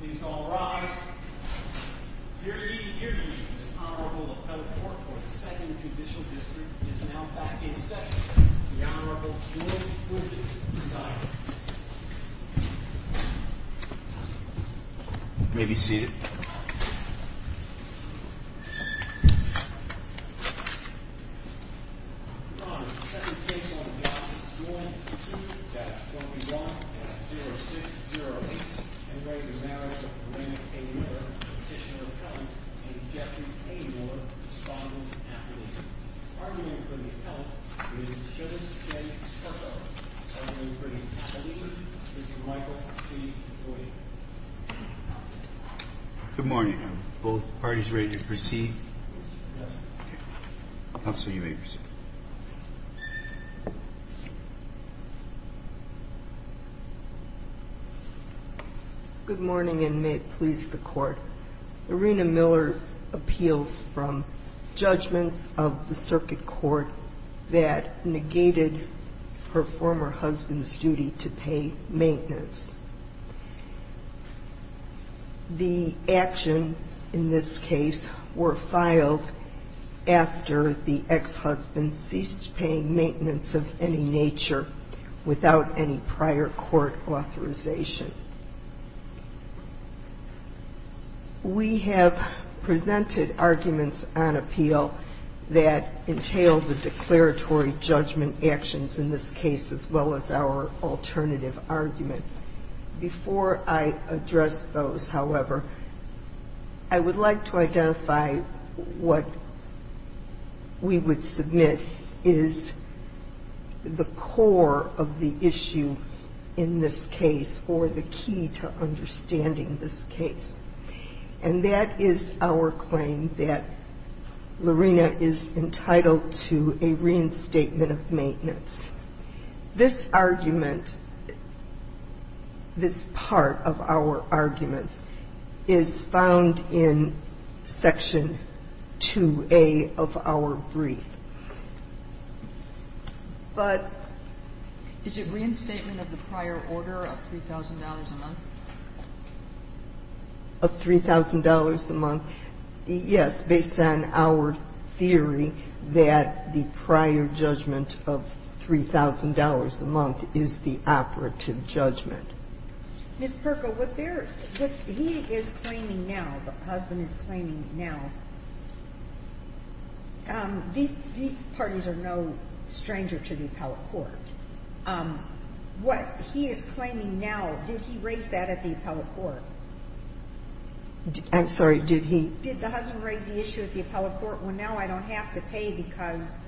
Please all rise. Your Ede, your Ede is honorable appellate court for the second judicial district is now back in session. The Honorable Julian Bridges is diagnosed. You may be seated. Good morning. Good morning. Both parties ready to proceed. Good morning and may it please the court. Irena Miller appeals from judgments of the circuit court that negated her former husband's duty to pay maintenance. The actions in this case were filed after the ex-husband ceased paying maintenance of any nature without any prior court authorization. We have presented arguments on appeal that entail the declaratory judgment actions in this case as well as our alternative argument. Before I address those, however, I would like to identify what we would submit is the core of the issue in this case or the key to understanding this case. And that is our claim that Lorena is entitled to a reinstatement of maintenance. This argument, this part of our arguments is found in section 2A of our brief. But is it reinstatement of the prior order of $3,000 a month? Of $3,000 a month? Yes, based on our theory that the prior judgment of $3,000 a month is the operative judgment. Ms. Perko, what he is claiming now, the husband is claiming now, these parties are no stranger to the appellate court. What he is claiming now, did he raise that at the appellate court? I'm sorry, did he? Did the husband raise the issue at the appellate court? Well, now I don't have to pay because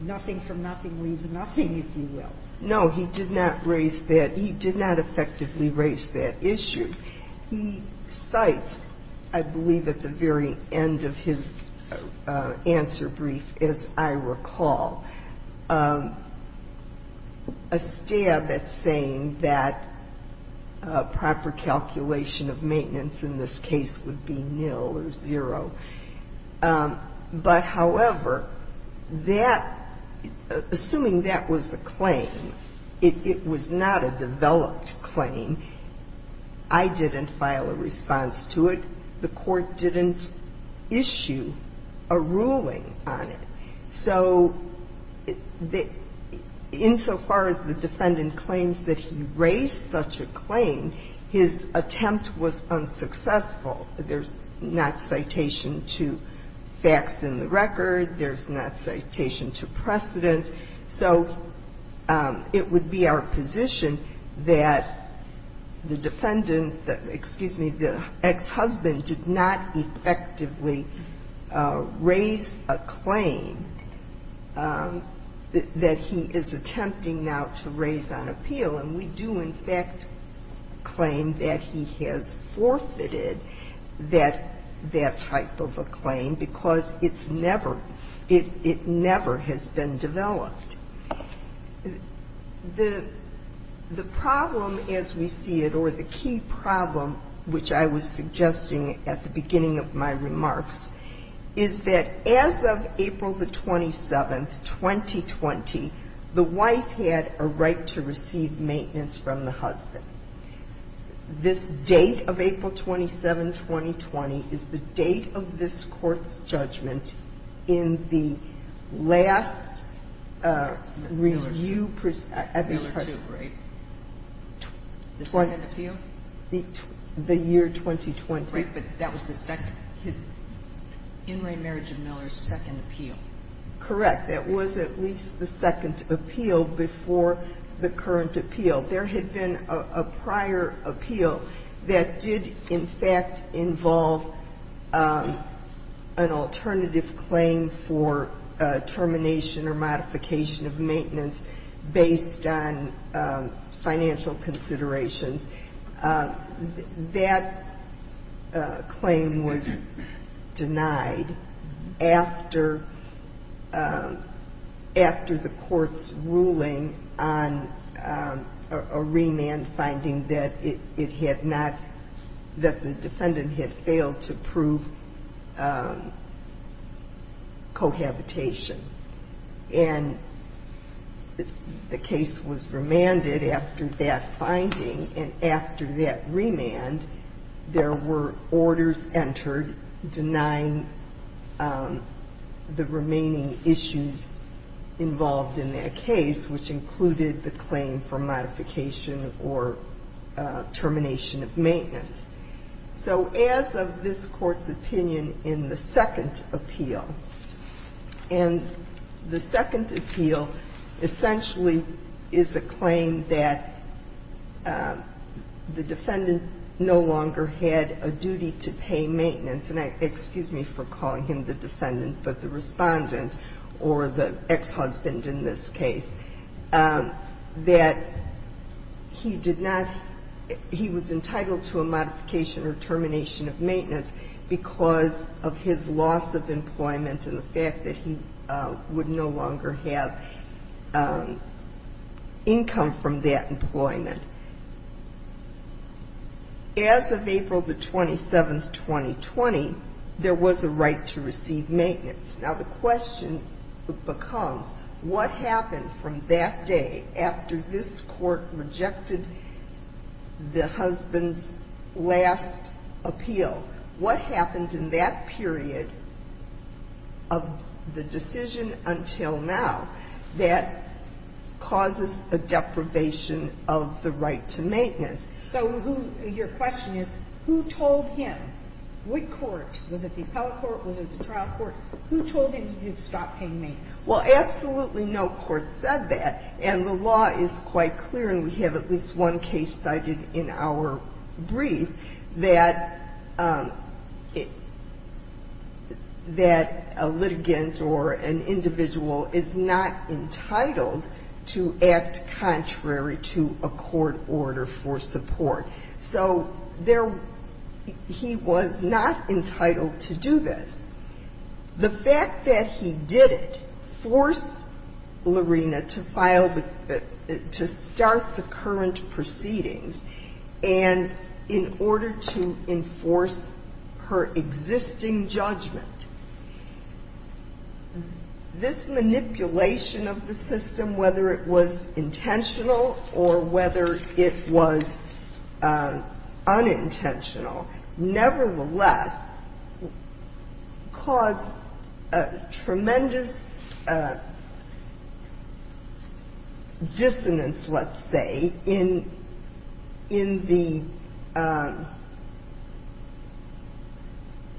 nothing from nothing leaves nothing, if you will. No, he did not raise that. He did not effectively raise that issue. He cites, I believe at the very end of his answer brief, as I recall, a stab at saying that proper calculation of maintenance in this case would be nil or zero. But, however, that, assuming that was a claim, it was not a developed claim, I didn't file a response to it. The court didn't issue a ruling on it. So insofar as the defendant claims that he raised such a claim, his attempt was unsuccessful. There's not citation to facts in the record. There's not citation to precedent. So it would be our position that the defendant, excuse me, the ex-husband did not effectively raise a claim that he is attempting now to raise on appeal. And we do, in fact, claim that he has forfeited that type of a claim because it's never, it never has been developed. The problem as we see it, or the key problem, which I was suggesting at the beginning of my remarks, is that as of April the 27th, 2020, the wife had a right to receive maintenance from the husband. This date of April 27th, 2020, is the date of this Court's judgment in the last review. The second appeal? The year 2020. Right. But that was the second. His in re marriage of Miller's second appeal. Correct. That was at least the second appeal before the current appeal. There had been a prior appeal that did, in fact, involve an alternative claim for termination or modification of maintenance based on financial considerations. That claim was denied after the Court's ruling on a remand finding that it had not, that the defendant had failed to prove cohabitation. And the case was remanded after that finding. And after that remand, there were orders entered denying the remaining issues involved in that case, which included the claim for modification or termination of maintenance. So as of this Court's opinion in the second appeal, and the second appeal essentially is a claim that the defendant no longer had a duty to pay maintenance. And excuse me for calling him the defendant, but the respondent or the ex-husband in this case, that he did not, he was entitled to a modification or termination of maintenance because of his loss of employment and the fact that he would no longer have income from that employment. As of April the 27th, 2020, there was a right to receive maintenance. Now, the question becomes, what happened from that day after this Court rejected the husband's last appeal? What happened in that period of the decision until now that causes a deprivation of the right to maintenance? So your question is, who told him? What court? Was it the appellate court? Was it the trial court? Who told him to stop paying maintenance? Well, absolutely no court said that. And the law is quite clear, and we have at least one case cited in our brief that a litigant or an individual is not entitled to act contrary to a court order for support. So there he was not entitled to do this. The fact that he did it forced Lorena to file the – to start the current proceedings. And in order to enforce her existing judgment, this manipulation of the system, whether it was intentional or whether it was unintentional, nevertheless, caused a tremendous dissonance, let's say, in the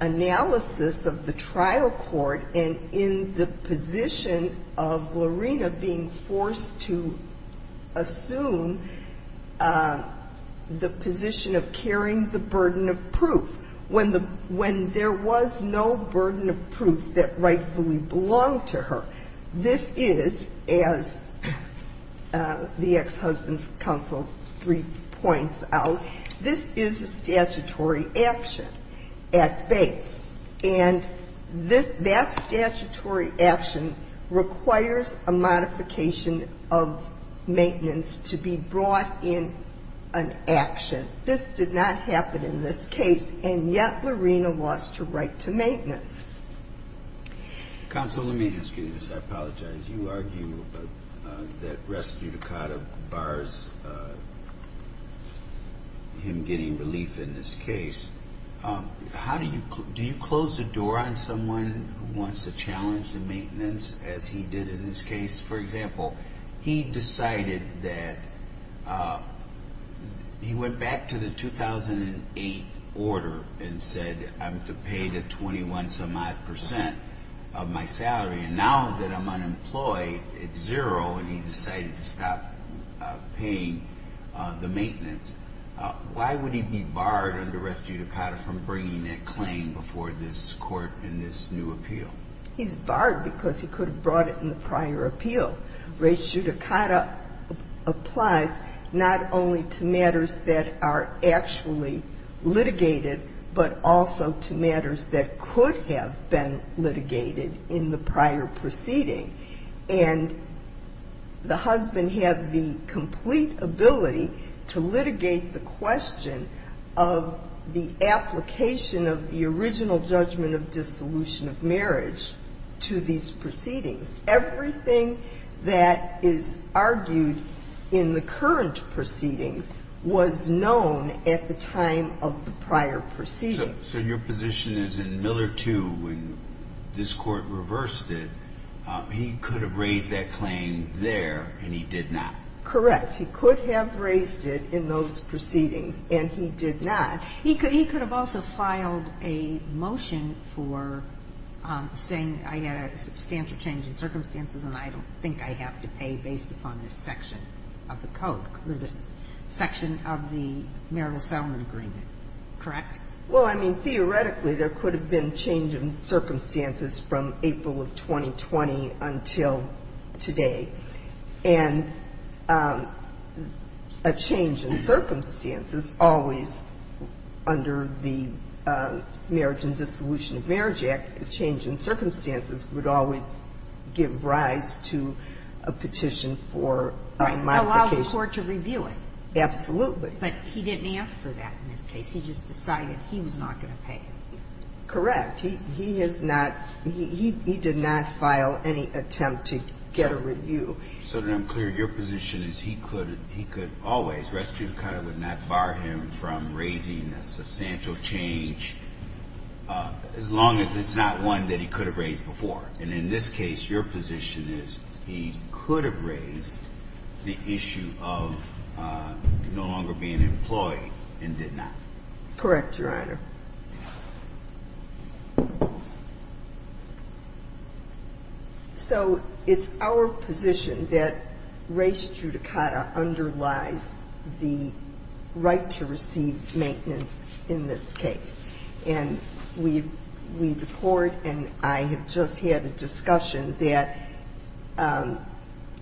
analysis of the trial court and in the position of Lorena being forced to assume the position of carrying the burden of proof. When there was no burden of proof that rightfully belonged to her, this is, as the ex-husband's counsel's brief points out, this is a statutory action at base. And this – that statutory action requires a modification of maintenance to be brought in an action. This did not happen in this case, and yet Lorena lost her right to maintenance. Counsel, let me ask you this. I apologize. You argue that res judicata bars him getting relief in this case. How do you – do you close the door on someone who wants to challenge the maintenance as he did in this case? For example, he decided that – he went back to the 2008 order and said, I'm to pay the 21-some-odd percent of my salary. And now that I'm unemployed, it's zero, and he decided to stop paying the maintenance. Why would he be barred under res judicata from bringing that claim before this court in this new appeal? He's barred because he could have brought it in the prior appeal. Res judicata applies not only to matters that are actually litigated, but also to matters that could have been litigated in the prior proceeding. And the husband had the complete ability to litigate the question of the application of the original judgment of dissolution of marriage to these proceedings. Everything that is argued in the current proceedings was known at the time of the prior proceedings. So your position is in Miller 2, when this court reversed it, he could have raised that claim there, and he did not. Correct. He could have raised it in those proceedings, and he did not. He could have also filed a motion for saying, I had a substantial change in circumstances, and I don't think I have to pay based upon this section of the code, or this section of the marital settlement agreement. Correct? Well, I mean, theoretically, there could have been change in circumstances from April of 2020 until today. And a change in circumstances always, under the Marriage and Dissolution of Marriage Act, a change in circumstances would always give rise to a petition for modification. Right. Allows the court to review it. Absolutely. But he didn't ask for that in this case. He just decided he was not going to pay. Correct. He has not. He did not file any attempt to get a review. So then I'm clear. Your position is he could always. Restitution would not bar him from raising a substantial change, as long as it's not one that he could have raised before. And in this case, your position is he could have raised the issue of no longer being employed and did not. Correct, Your Honor. So it's our position that race judicata underlies the right to receive maintenance in this case. And we, the court and I, have just had a discussion that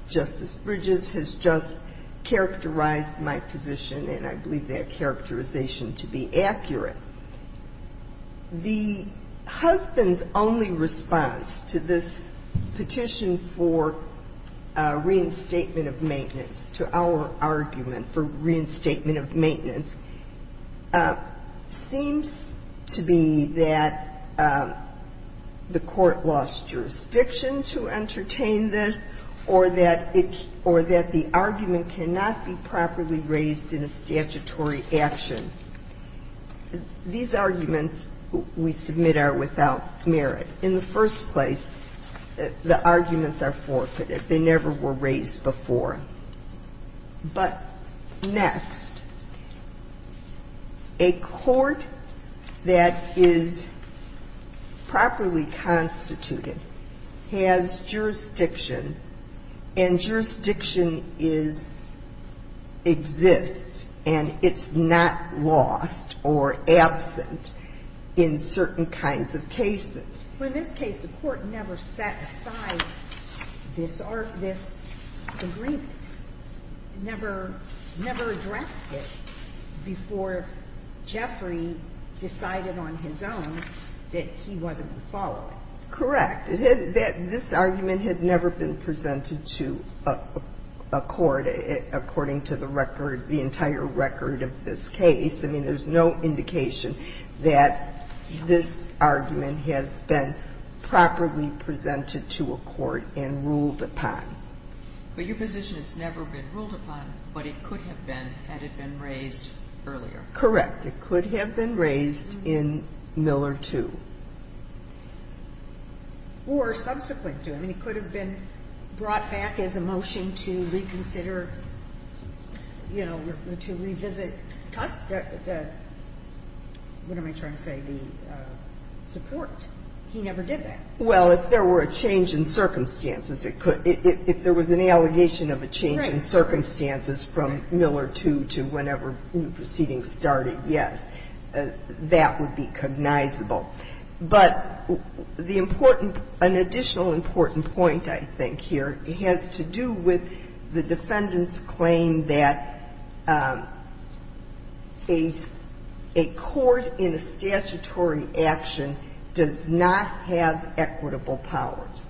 Justice Bridges has just characterized my position, and I believe that characterization to be accurate. The husband's only response to this petition for reinstatement of maintenance, to our argument for reinstatement of maintenance, seems to be that the court lost The argument cannot be properly raised in a statutory action. These arguments we submit are without merit. In the first place, the arguments are forfeited. They never were raised before. But next, a court that is properly constituted has jurisdiction, and jurisdiction is, exists, and it's not lost or absent in certain kinds of cases. But in this case, the court never set aside this argument, never addressed it before Jeffrey decided on his own that he wasn't going to follow it. Correct. This argument had never been presented to a court, according to the record, the entire record of this case. I mean, there's no indication that this argument has been properly presented to a court and ruled upon. But your position, it's never been ruled upon, but it could have been had it been raised earlier. Correct. It could have been raised in Miller 2. Or subsequent to. I mean, it could have been brought back as a motion to reconsider, you know, to revisit the, what am I trying to say, the support. He never did that. Well, if there were a change in circumstances, it could. If there was an allegation of a change in circumstances from Miller 2 to whenever the proceeding started, yes, that would be cognizable. But the important, an additional important point, I think, here, has to do with the defendant's claim that a court in a statutory action does not have equitable powers.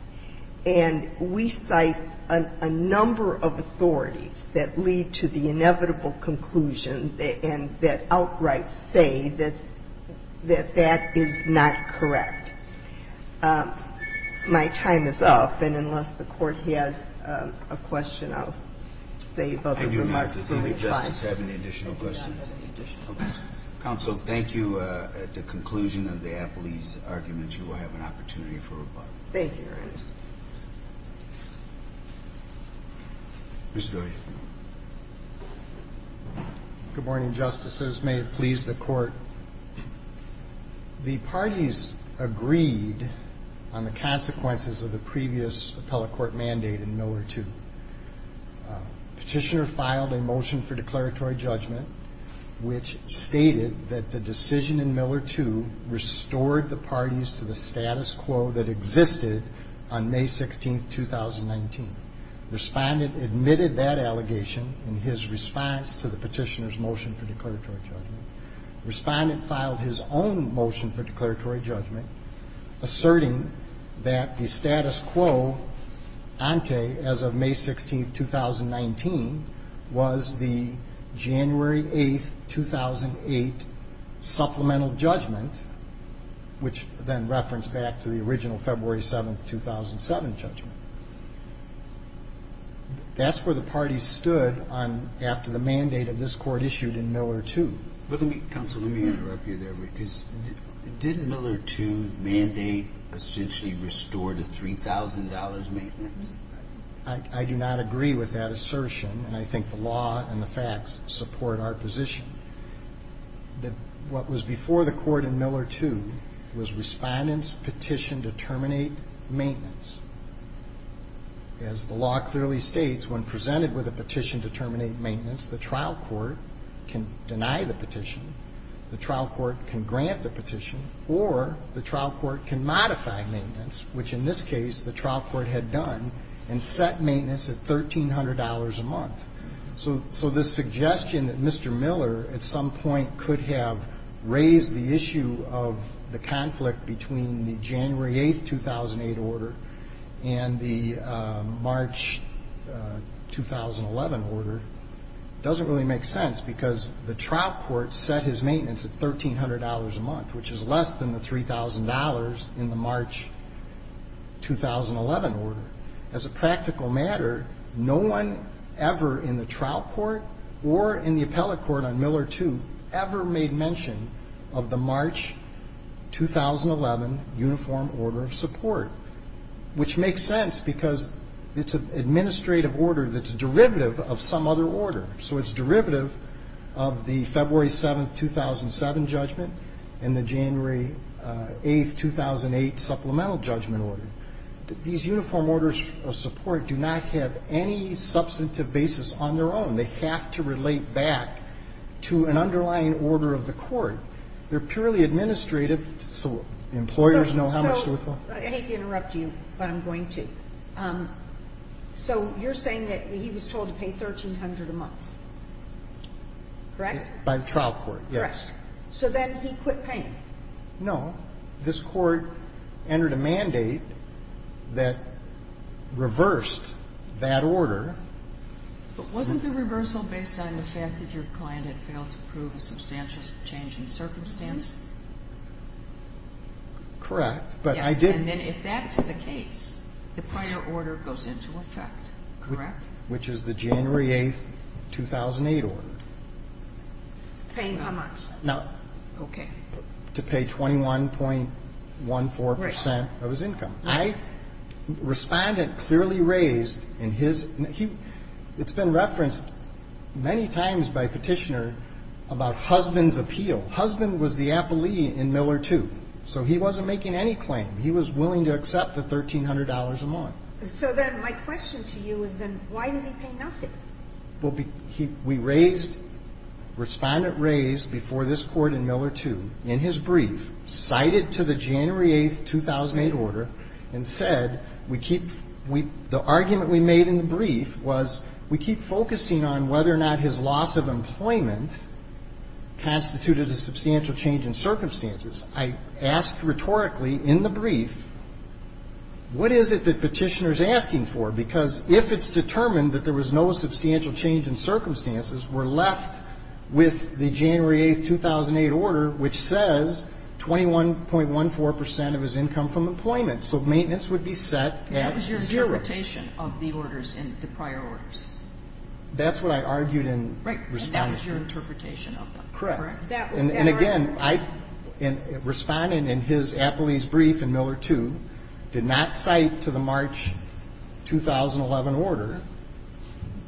And we cite a number of authorities that lead to the inevitable conclusion and that outright say that that is not correct. My time is up. And unless the Court has a question, I'll save other remarks until we try. Thank you, Your Honor. Does any Justice have any additional questions? I do not have any additional questions. Counsel, thank you. At the conclusion of the Appley's argument, you will have an opportunity for rebuttal. Thank you, Your Honor. Mr. Daly. Good morning, Justices. May it please the Court. The parties agreed on the consequences of the previous appellate court mandate in Miller 2. Petitioner filed a motion for declaratory judgment which stated that the decision in Miller 2 restored the parties to the status quo that existed on May 16, 2019. Respondent admitted that allegation in his response to the petitioner's motion for declaratory judgment. Respondent filed his own motion for declaratory judgment, asserting that the status quo ante as of May 16, 2019, was the January 8, 2008 supplemental judgment, which then referenced back to the original February 7, 2007 judgment. That's where the parties stood after the mandate of this Court issued in Miller 2. Counsel, let me interrupt you there. Did Miller 2 mandate essentially restore the $3,000 maintenance? I do not agree with that assertion, and I think the law and the facts support our position. What was before the Court in Miller 2 was Respondent's petition to terminate maintenance. As the law clearly states, when presented with a petition to terminate maintenance, the trial court can deny the petition, the trial court can grant the petition, or the trial court can modify maintenance, which in this case the trial court had done, and set maintenance at $1,300 a month. So this suggestion that Mr. Miller at some point could have raised the issue of the conflict between the January 8, 2008 order and the March 2011 order doesn't really make sense, because the trial court set his maintenance at $1,300 a month, which is less than the $3,000 in the March 2011 order. As a practical matter, no one ever in the trial court or in the appellate court on Miller 2 ever made mention of the March 2011 uniform order of support, which makes sense because it's an administrative order that's derivative of some other order. So it's derivative of the February 7, 2007 judgment and the January 8, 2008 supplemental judgment order. These uniform orders of support do not have any substantive basis on their own. They have to relate back to an underlying order of the court. They're purely administrative so employers know how much to withhold. So I hate to interrupt you, but I'm going to. So you're saying that he was told to pay $1,300 a month, correct? By the trial court, yes. Correct. So then he quit paying. No. This Court entered a mandate that reversed that order. But wasn't the reversal based on the fact that your client had failed to prove a substantial change in circumstance? Correct. Yes. And then if that's the case, the prior order goes into effect, correct? Which is the January 8, 2008 order. Paying how much? No. Okay. To pay 21.14 percent of his income. Right. Respondent clearly raised in his ñ it's been referenced many times by Petitioner about husband's appeal. Husband was the appellee in Miller 2, so he wasn't making any claim. He was willing to accept the $1,300 a month. So then my question to you is then why did he pay nothing? Well, we raised ñ Respondent raised before this Court in Miller 2 in his brief, cited to the January 8, 2008 order, and said we keep ñ the argument we made in the brief was we keep focusing on whether or not his loss of employment constituted a substantial change in circumstances. I asked rhetorically in the brief, what is it that Petitioner is asking for? Because if it's determined that there was no substantial change in circumstances, we're left with the January 8, 2008 order, which says 21.14 percent of his income from employment. So maintenance would be set at zero. That was your interpretation of the orders in the prior orders. That's what I argued in Respondent's brief. Right. And that was your interpretation of them. Correct. And again, I ñ Respondent in his appellee's brief in Miller 2 did not cite to the March 2011 order,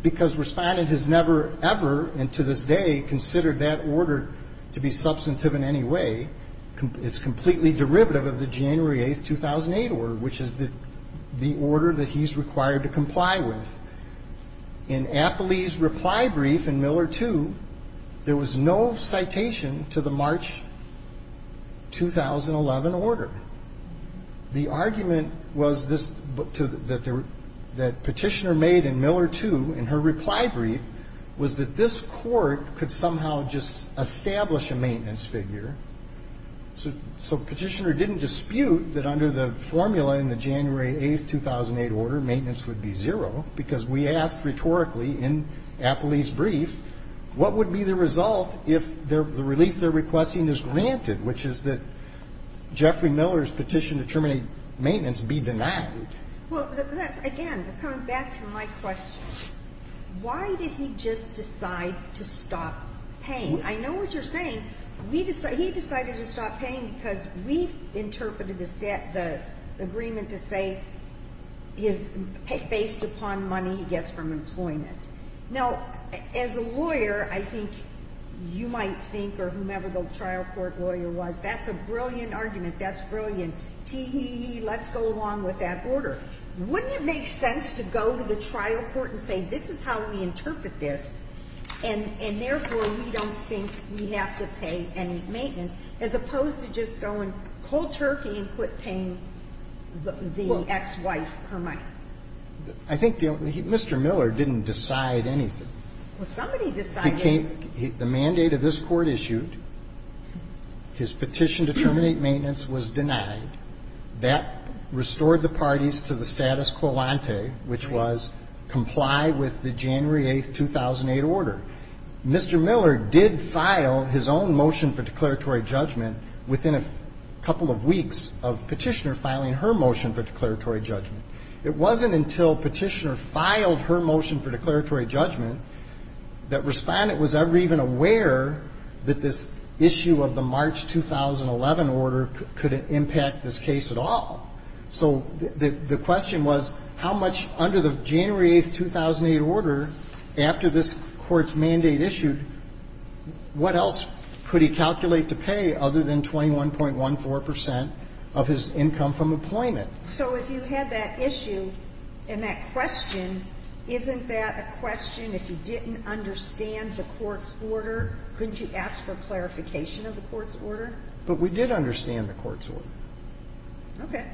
because Respondent has never, ever, and to this day, considered that order to be substantive in any way. It's completely derivative of the January 8, 2008 order, which is the order that he's required to comply with. In appellee's reply brief in Miller 2, there was no citation to the March 2011 order. The argument was this ñ that Petitioner made in Miller 2 in her reply brief was that this court could somehow just establish a maintenance figure. So Petitioner didn't dispute that under the formula in the January 8, 2008 order, maintenance would be zero, because we asked rhetorically in appellee's brief, what would be the result if the relief they're requesting is granted, which is that Jeffrey Miller, Petitioner terminating maintenance, be denied? Well, that's ñ again, coming back to my question, why did he just decide to stop paying? I know what you're saying. We decided ñ he decided to stop paying because we interpreted the set ñ the agreement to say is based upon money he gets from employment. Now, as a lawyer, I think you might think, or whomever the trial court lawyer was, that's a brilliant argument. That's brilliant. Tee hee hee, let's go along with that order. Wouldn't it make sense to go to the trial court and say this is how we interpret this, and therefore we don't think we have to pay any maintenance, as opposed to just going cold turkey and quit paying the ex-wife her money? I think the ñ Mr. Miller didn't decide anything. Well, somebody decided. Mr. Miller came ñ the mandate of this Court issued, his petition to terminate maintenance was denied. That restored the parties to the status quo ante, which was comply with the January 8, 2008 order. Mr. Miller did file his own motion for declaratory judgment within a couple of weeks of Petitioner filing her motion for declaratory judgment. It wasn't until Petitioner filed her motion for declaratory judgment that Respondent was ever even aware that this issue of the March 2011 order could impact this case at all. So the question was how much under the January 8, 2008 order, after this Court's mandate issued, what else could he calculate to pay other than 21.14 percent of his income from employment? So if you had that issue and that question, isn't that a question if you didn't understand the Court's order? Couldn't you ask for clarification of the Court's order? But we did understand the Court's order. Okay.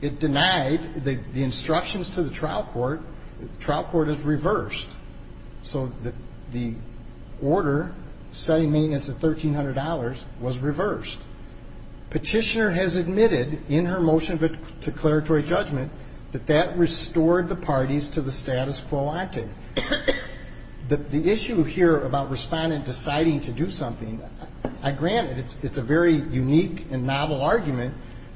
It denied the instructions to the trial court. The trial court has reversed. So the order setting maintenance at $1,300 was reversed. Petitioner has admitted in her motion of declaratory judgment that that restored the parties to the status quo ante. The issue here about Respondent deciding to do something, granted, it's a very unique and novel argument,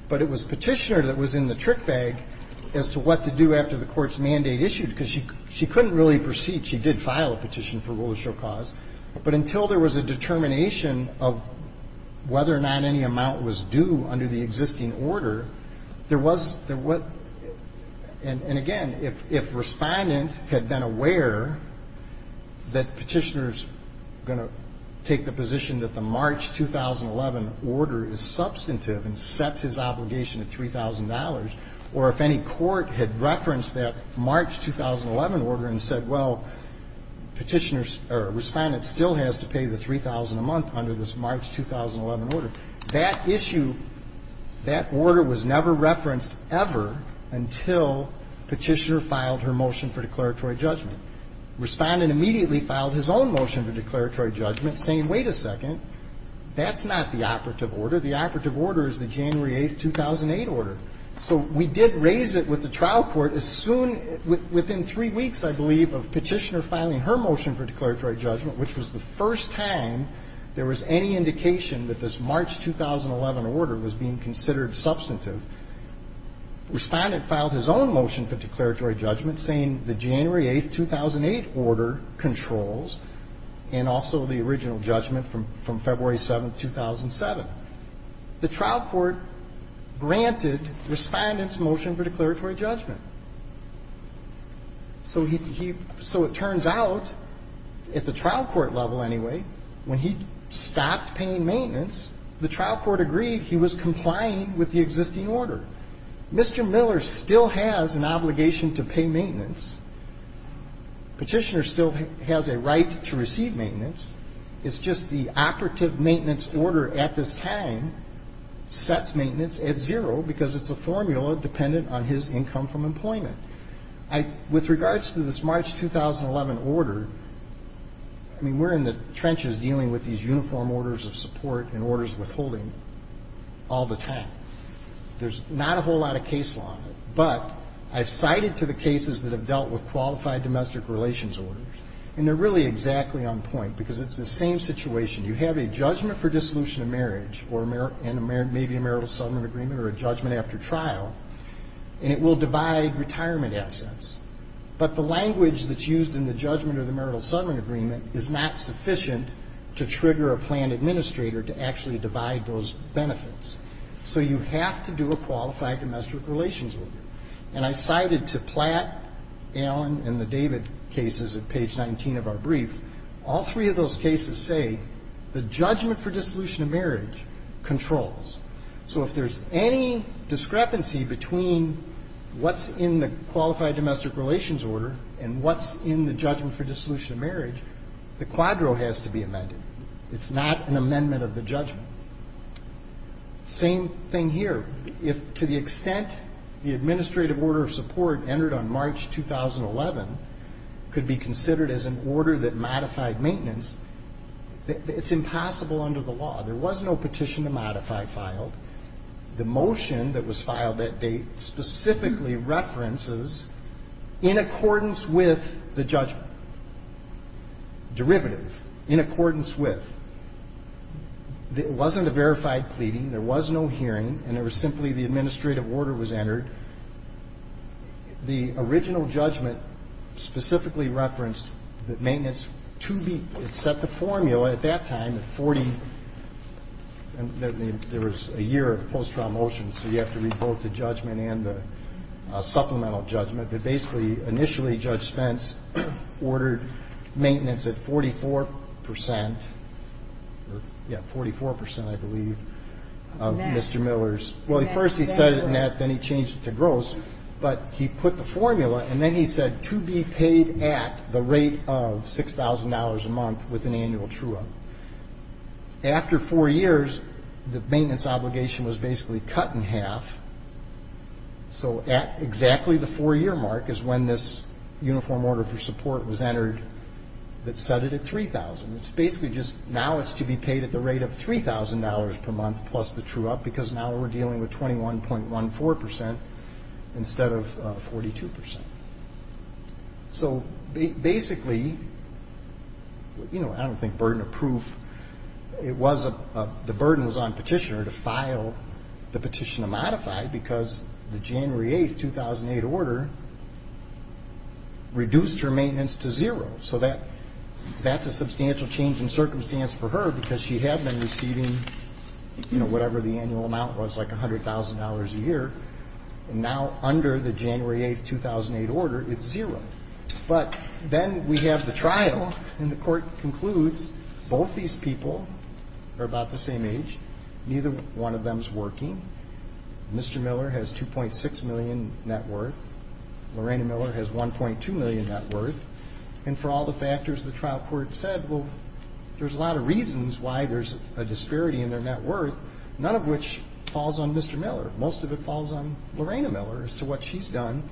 but it was Petitioner that was in the trick bag as to what to do after the Court's mandate issued, because she couldn't really proceed. She did file a petition for rule of show cause. But until there was a determination of whether or not any amount was due under the existing order, there was the what – and again, if Respondent had been aware that Petitioner's going to take the position that the March 2011 order is substantive and sets his obligation at $3,000, or if any court had referenced that March 2011 order and said, well, Petitioner's – or Respondent still has to pay the $3,000 a month under this March 2011 order, that issue, that order was never referenced ever until Petitioner filed her motion for declaratory judgment. Respondent immediately filed his own motion for declaratory judgment saying, wait a second, that's not the operative order. The operative order is the January 8, 2008 order. So we did raise it with the trial court as soon – within three weeks, I believe, of Petitioner filing her motion for declaratory judgment, which was the first time there was any indication that this March 2011 order was being considered substantive. Respondent filed his own motion for declaratory judgment saying the January 8, 2008 order controls, and also the original judgment from February 7, 2007. The trial court granted Respondent's motion for declaratory judgment. So he – so it turns out, at the trial court level anyway, when he stopped paying maintenance, the trial court agreed he was complying with the existing order. Mr. Miller still has an obligation to pay maintenance. Petitioner still has a right to receive maintenance. It's just the operative maintenance order at this time sets maintenance at zero because it's a formula dependent on his income from employment. With regards to this March 2011 order, I mean, we're in the trenches dealing with these uniform orders of support and orders withholding all the time. There's not a whole lot of case law in it. But I've cited to the cases that have dealt with qualified domestic relations orders, and they're really exactly on point because it's the same situation. You have a judgment for dissolution of marriage and maybe a marital settlement agreement or a judgment after trial, and it will divide retirement assets. But the language that's used in the judgment or the marital settlement agreement is not sufficient to trigger a plan administrator to actually divide those benefits. So you have to do a qualified domestic relations order. And I cited to Platt, Allen, and the David cases at page 19 of our brief, all three of those cases say the judgment for dissolution of marriage controls. So if there's any discrepancy between what's in the qualified domestic relations order and what's in the judgment for dissolution of marriage, the quadro has to be amended. It's not an amendment of the judgment. Same thing here. If to the extent the administrative order of support entered on March 2011 could be considered as an order that modified maintenance, it's impossible under the law. There was no petition to modify filed. The motion that was filed that date specifically references in accordance with the judgment, derivative, in accordance with. It wasn't a verified pleading. There was no hearing, and it was simply the administrative order was entered. The original judgment specifically referenced that maintenance to be, except the formula at that time, the 40, there was a year of post-trial motions, so you have to read both the judgment and the supplemental judgment. But basically, initially, Judge Spence ordered maintenance at 44 percent, yeah, 44 percent, I believe, of Mr. Miller's. Well, at first he said it in net, then he changed it to gross, but he put the formula, and then he said to be paid at the rate of $6,000 a month with an annual true up. After four years, the maintenance obligation was basically cut in half, so at exactly the four-year mark is when this uniform order for support was entered that set it at $3,000. It's basically just now it's to be paid at the rate of $3,000 per month plus the true up, because now we're dealing with 21.14 percent instead of 42 percent. So basically, I don't think burden of proof, the burden was on petitioner to file the petition to modify because the January 8, 2008 order reduced her maintenance to zero. So that's a substantial change in circumstance for her because she had been receiving, you know, whatever the annual amount was, like $100,000 a year, and now under the January 8, 2008 order, it's zero. But then we have the trial, and the court concludes both these people are about the same age, neither one of them is working, Mr. Miller has $2.6 million net worth, Lorena Miller has $1.2 million net worth. And for all the factors, the trial court said, well, there's a lot of reasons why there's a disparity in their net worth, none of which falls on Mr. Miller. Most of it falls on Lorena Miller as to what she's done,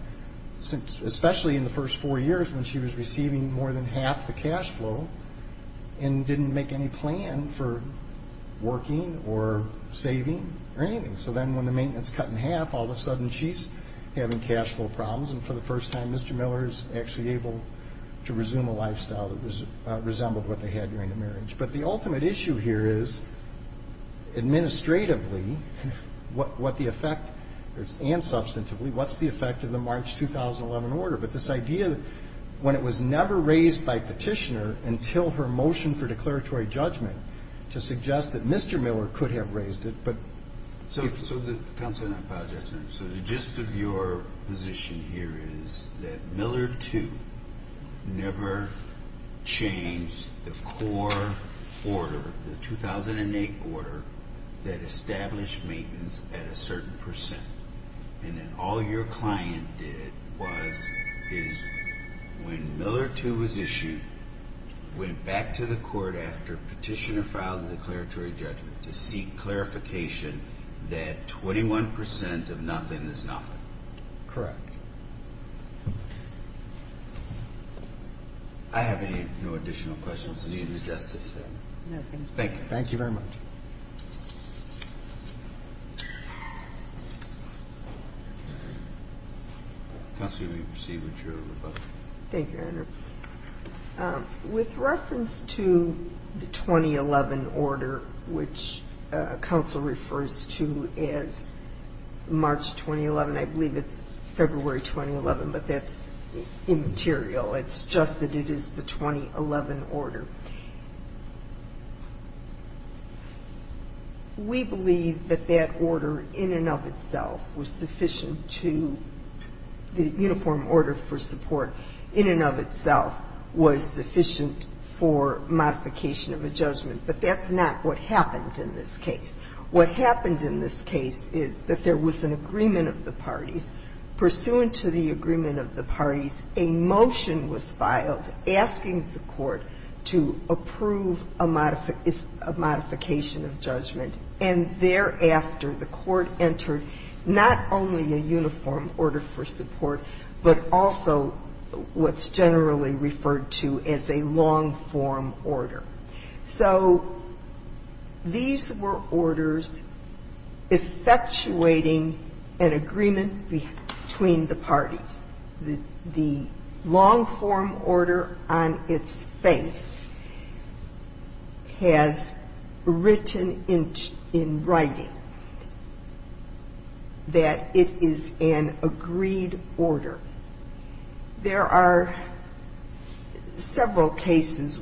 especially in the first four years when she was receiving more than half the cash flow and didn't make any plan for working or saving or anything. So then when the maintenance cut in half, all of a sudden she's having cash flow problems, and for the first time, Mr. Miller is actually able to resume a lifestyle that resembled what they had during the marriage. But the ultimate issue here is, administratively, what the effect, and substantively, what's the effect of the March 2011 order? But this idea that when it was never raised by Petitioner until her motion for declaratory judgment to suggest that Mr. Miller could have raised it, but... So the gist of your position here is that Miller, too, never changed the core order, the 2008 order, that established maintenance at a certain percent. And then all your client did was, when Miller, too, was issued, went back to the court after Petitioner filed the declaratory judgment to seek clarification that 21 percent of nothing is nothing. Correct. I have no additional questions in the interest of time. No, thank you. Thank you very much. Counsel, you may proceed with your rebuttal. Thank you, Your Honor. With reference to the 2011 order, which counsel refers to as March 2011, I believe it's February 2011, but that's immaterial. It's just that it is the 2011 order. We believe that that order in and of itself was sufficient to, the uniform order for support in and of itself was sufficient for modification of a judgment, but that's not what happened in this case. What happened in this case is that there was an agreement of the parties. Pursuant to the agreement of the parties, a motion was filed asking the court to approve a modification of judgment. And thereafter, the court entered not only a uniform order for support, but also what's generally referred to as a long-form order. So these were orders effectuating an agreement between the parties. The long-form order on its face has written in writing that it is an agreed order. However, there are several cases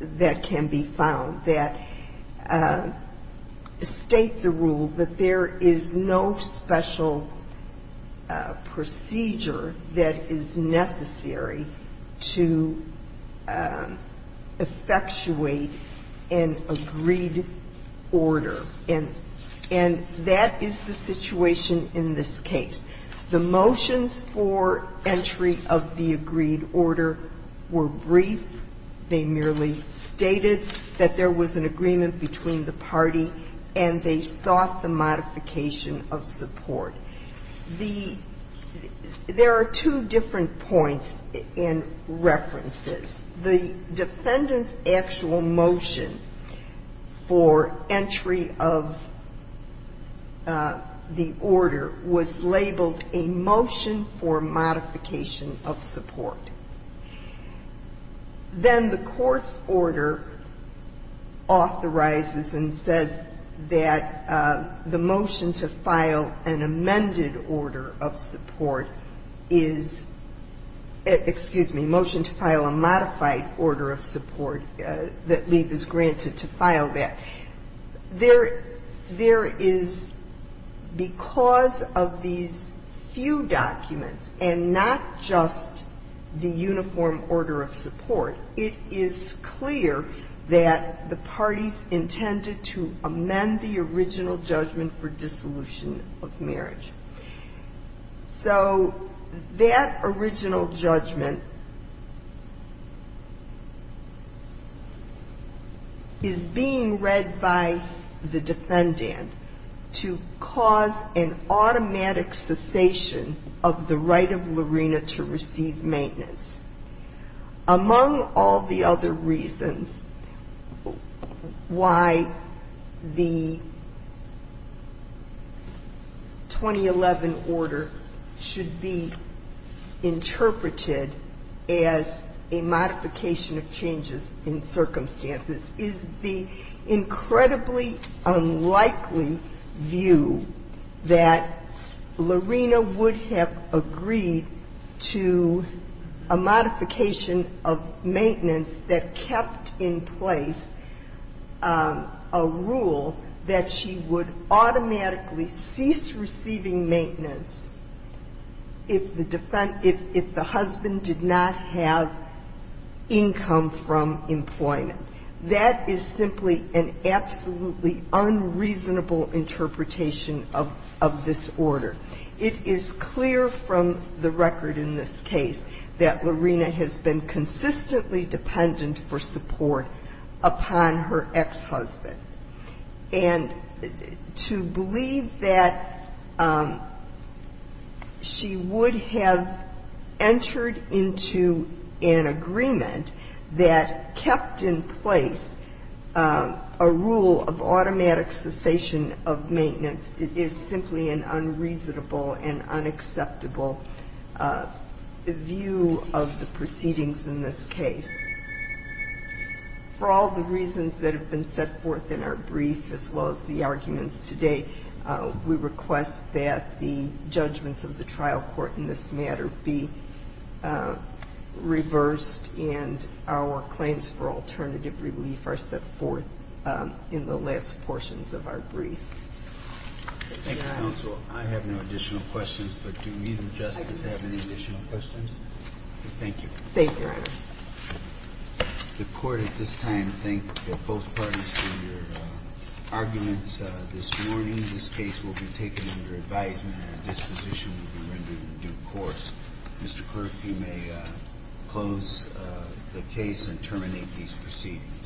that can be found that state the rule that there is no special procedure that is necessary to effectuate an agreed order. And that is the situation in this case. The motions for entry of the agreed order were brief. They merely stated that there was an agreement between the party and they sought the modification of support. The – there are two different points in reference to this. The defendant's actual motion for entry of the order was labeled, a motion for modification of support. Then the court's order authorizes and says that the motion to file an amended order of support is – excuse me, motion to file a modified order of support that leave is granted to file that. There is – because of these few documents and not just the uniform order of support, it is clear that the parties intended to amend the original judgment for dissolution of marriage. So that original judgment is being read by the defendant to cause an automatic cessation of the right of Lorena to receive maintenance, among all the other reasons why the 2011 order should be interpreted as a modification of changes in circumstances, is the incredibly unlikely view that Lorena would have agreed to a modification of maintenance that kept in place a rule that she would automatically cease receiving maintenance if the husband did not have income from employment. That is simply an absolutely unreasonable interpretation of this order. It is clear from the record in this case that Lorena has been consistently dependent for support upon her ex-husband. And to believe that she would have entered into an agreement that kept in place a rule of automatic cessation of maintenance is simply an unreasonable and unacceptable view of the proceedings in this case. For all the reasons that have been set forth in our brief, as well as the arguments today, we request that the judgments of the trial court in this matter be reversed and our claims for alternative relief are set forth in the last portions of our brief. Thank you, counsel. I have no additional questions, but do you, Justice, have any additional questions? Thank you. Thank you, Your Honor. The Court at this time thanks both parties for your arguments this morning. This case will be taken under advisement and a disposition will be rendered in due course. Mr. Clerk, you may close the case and terminate these proceedings.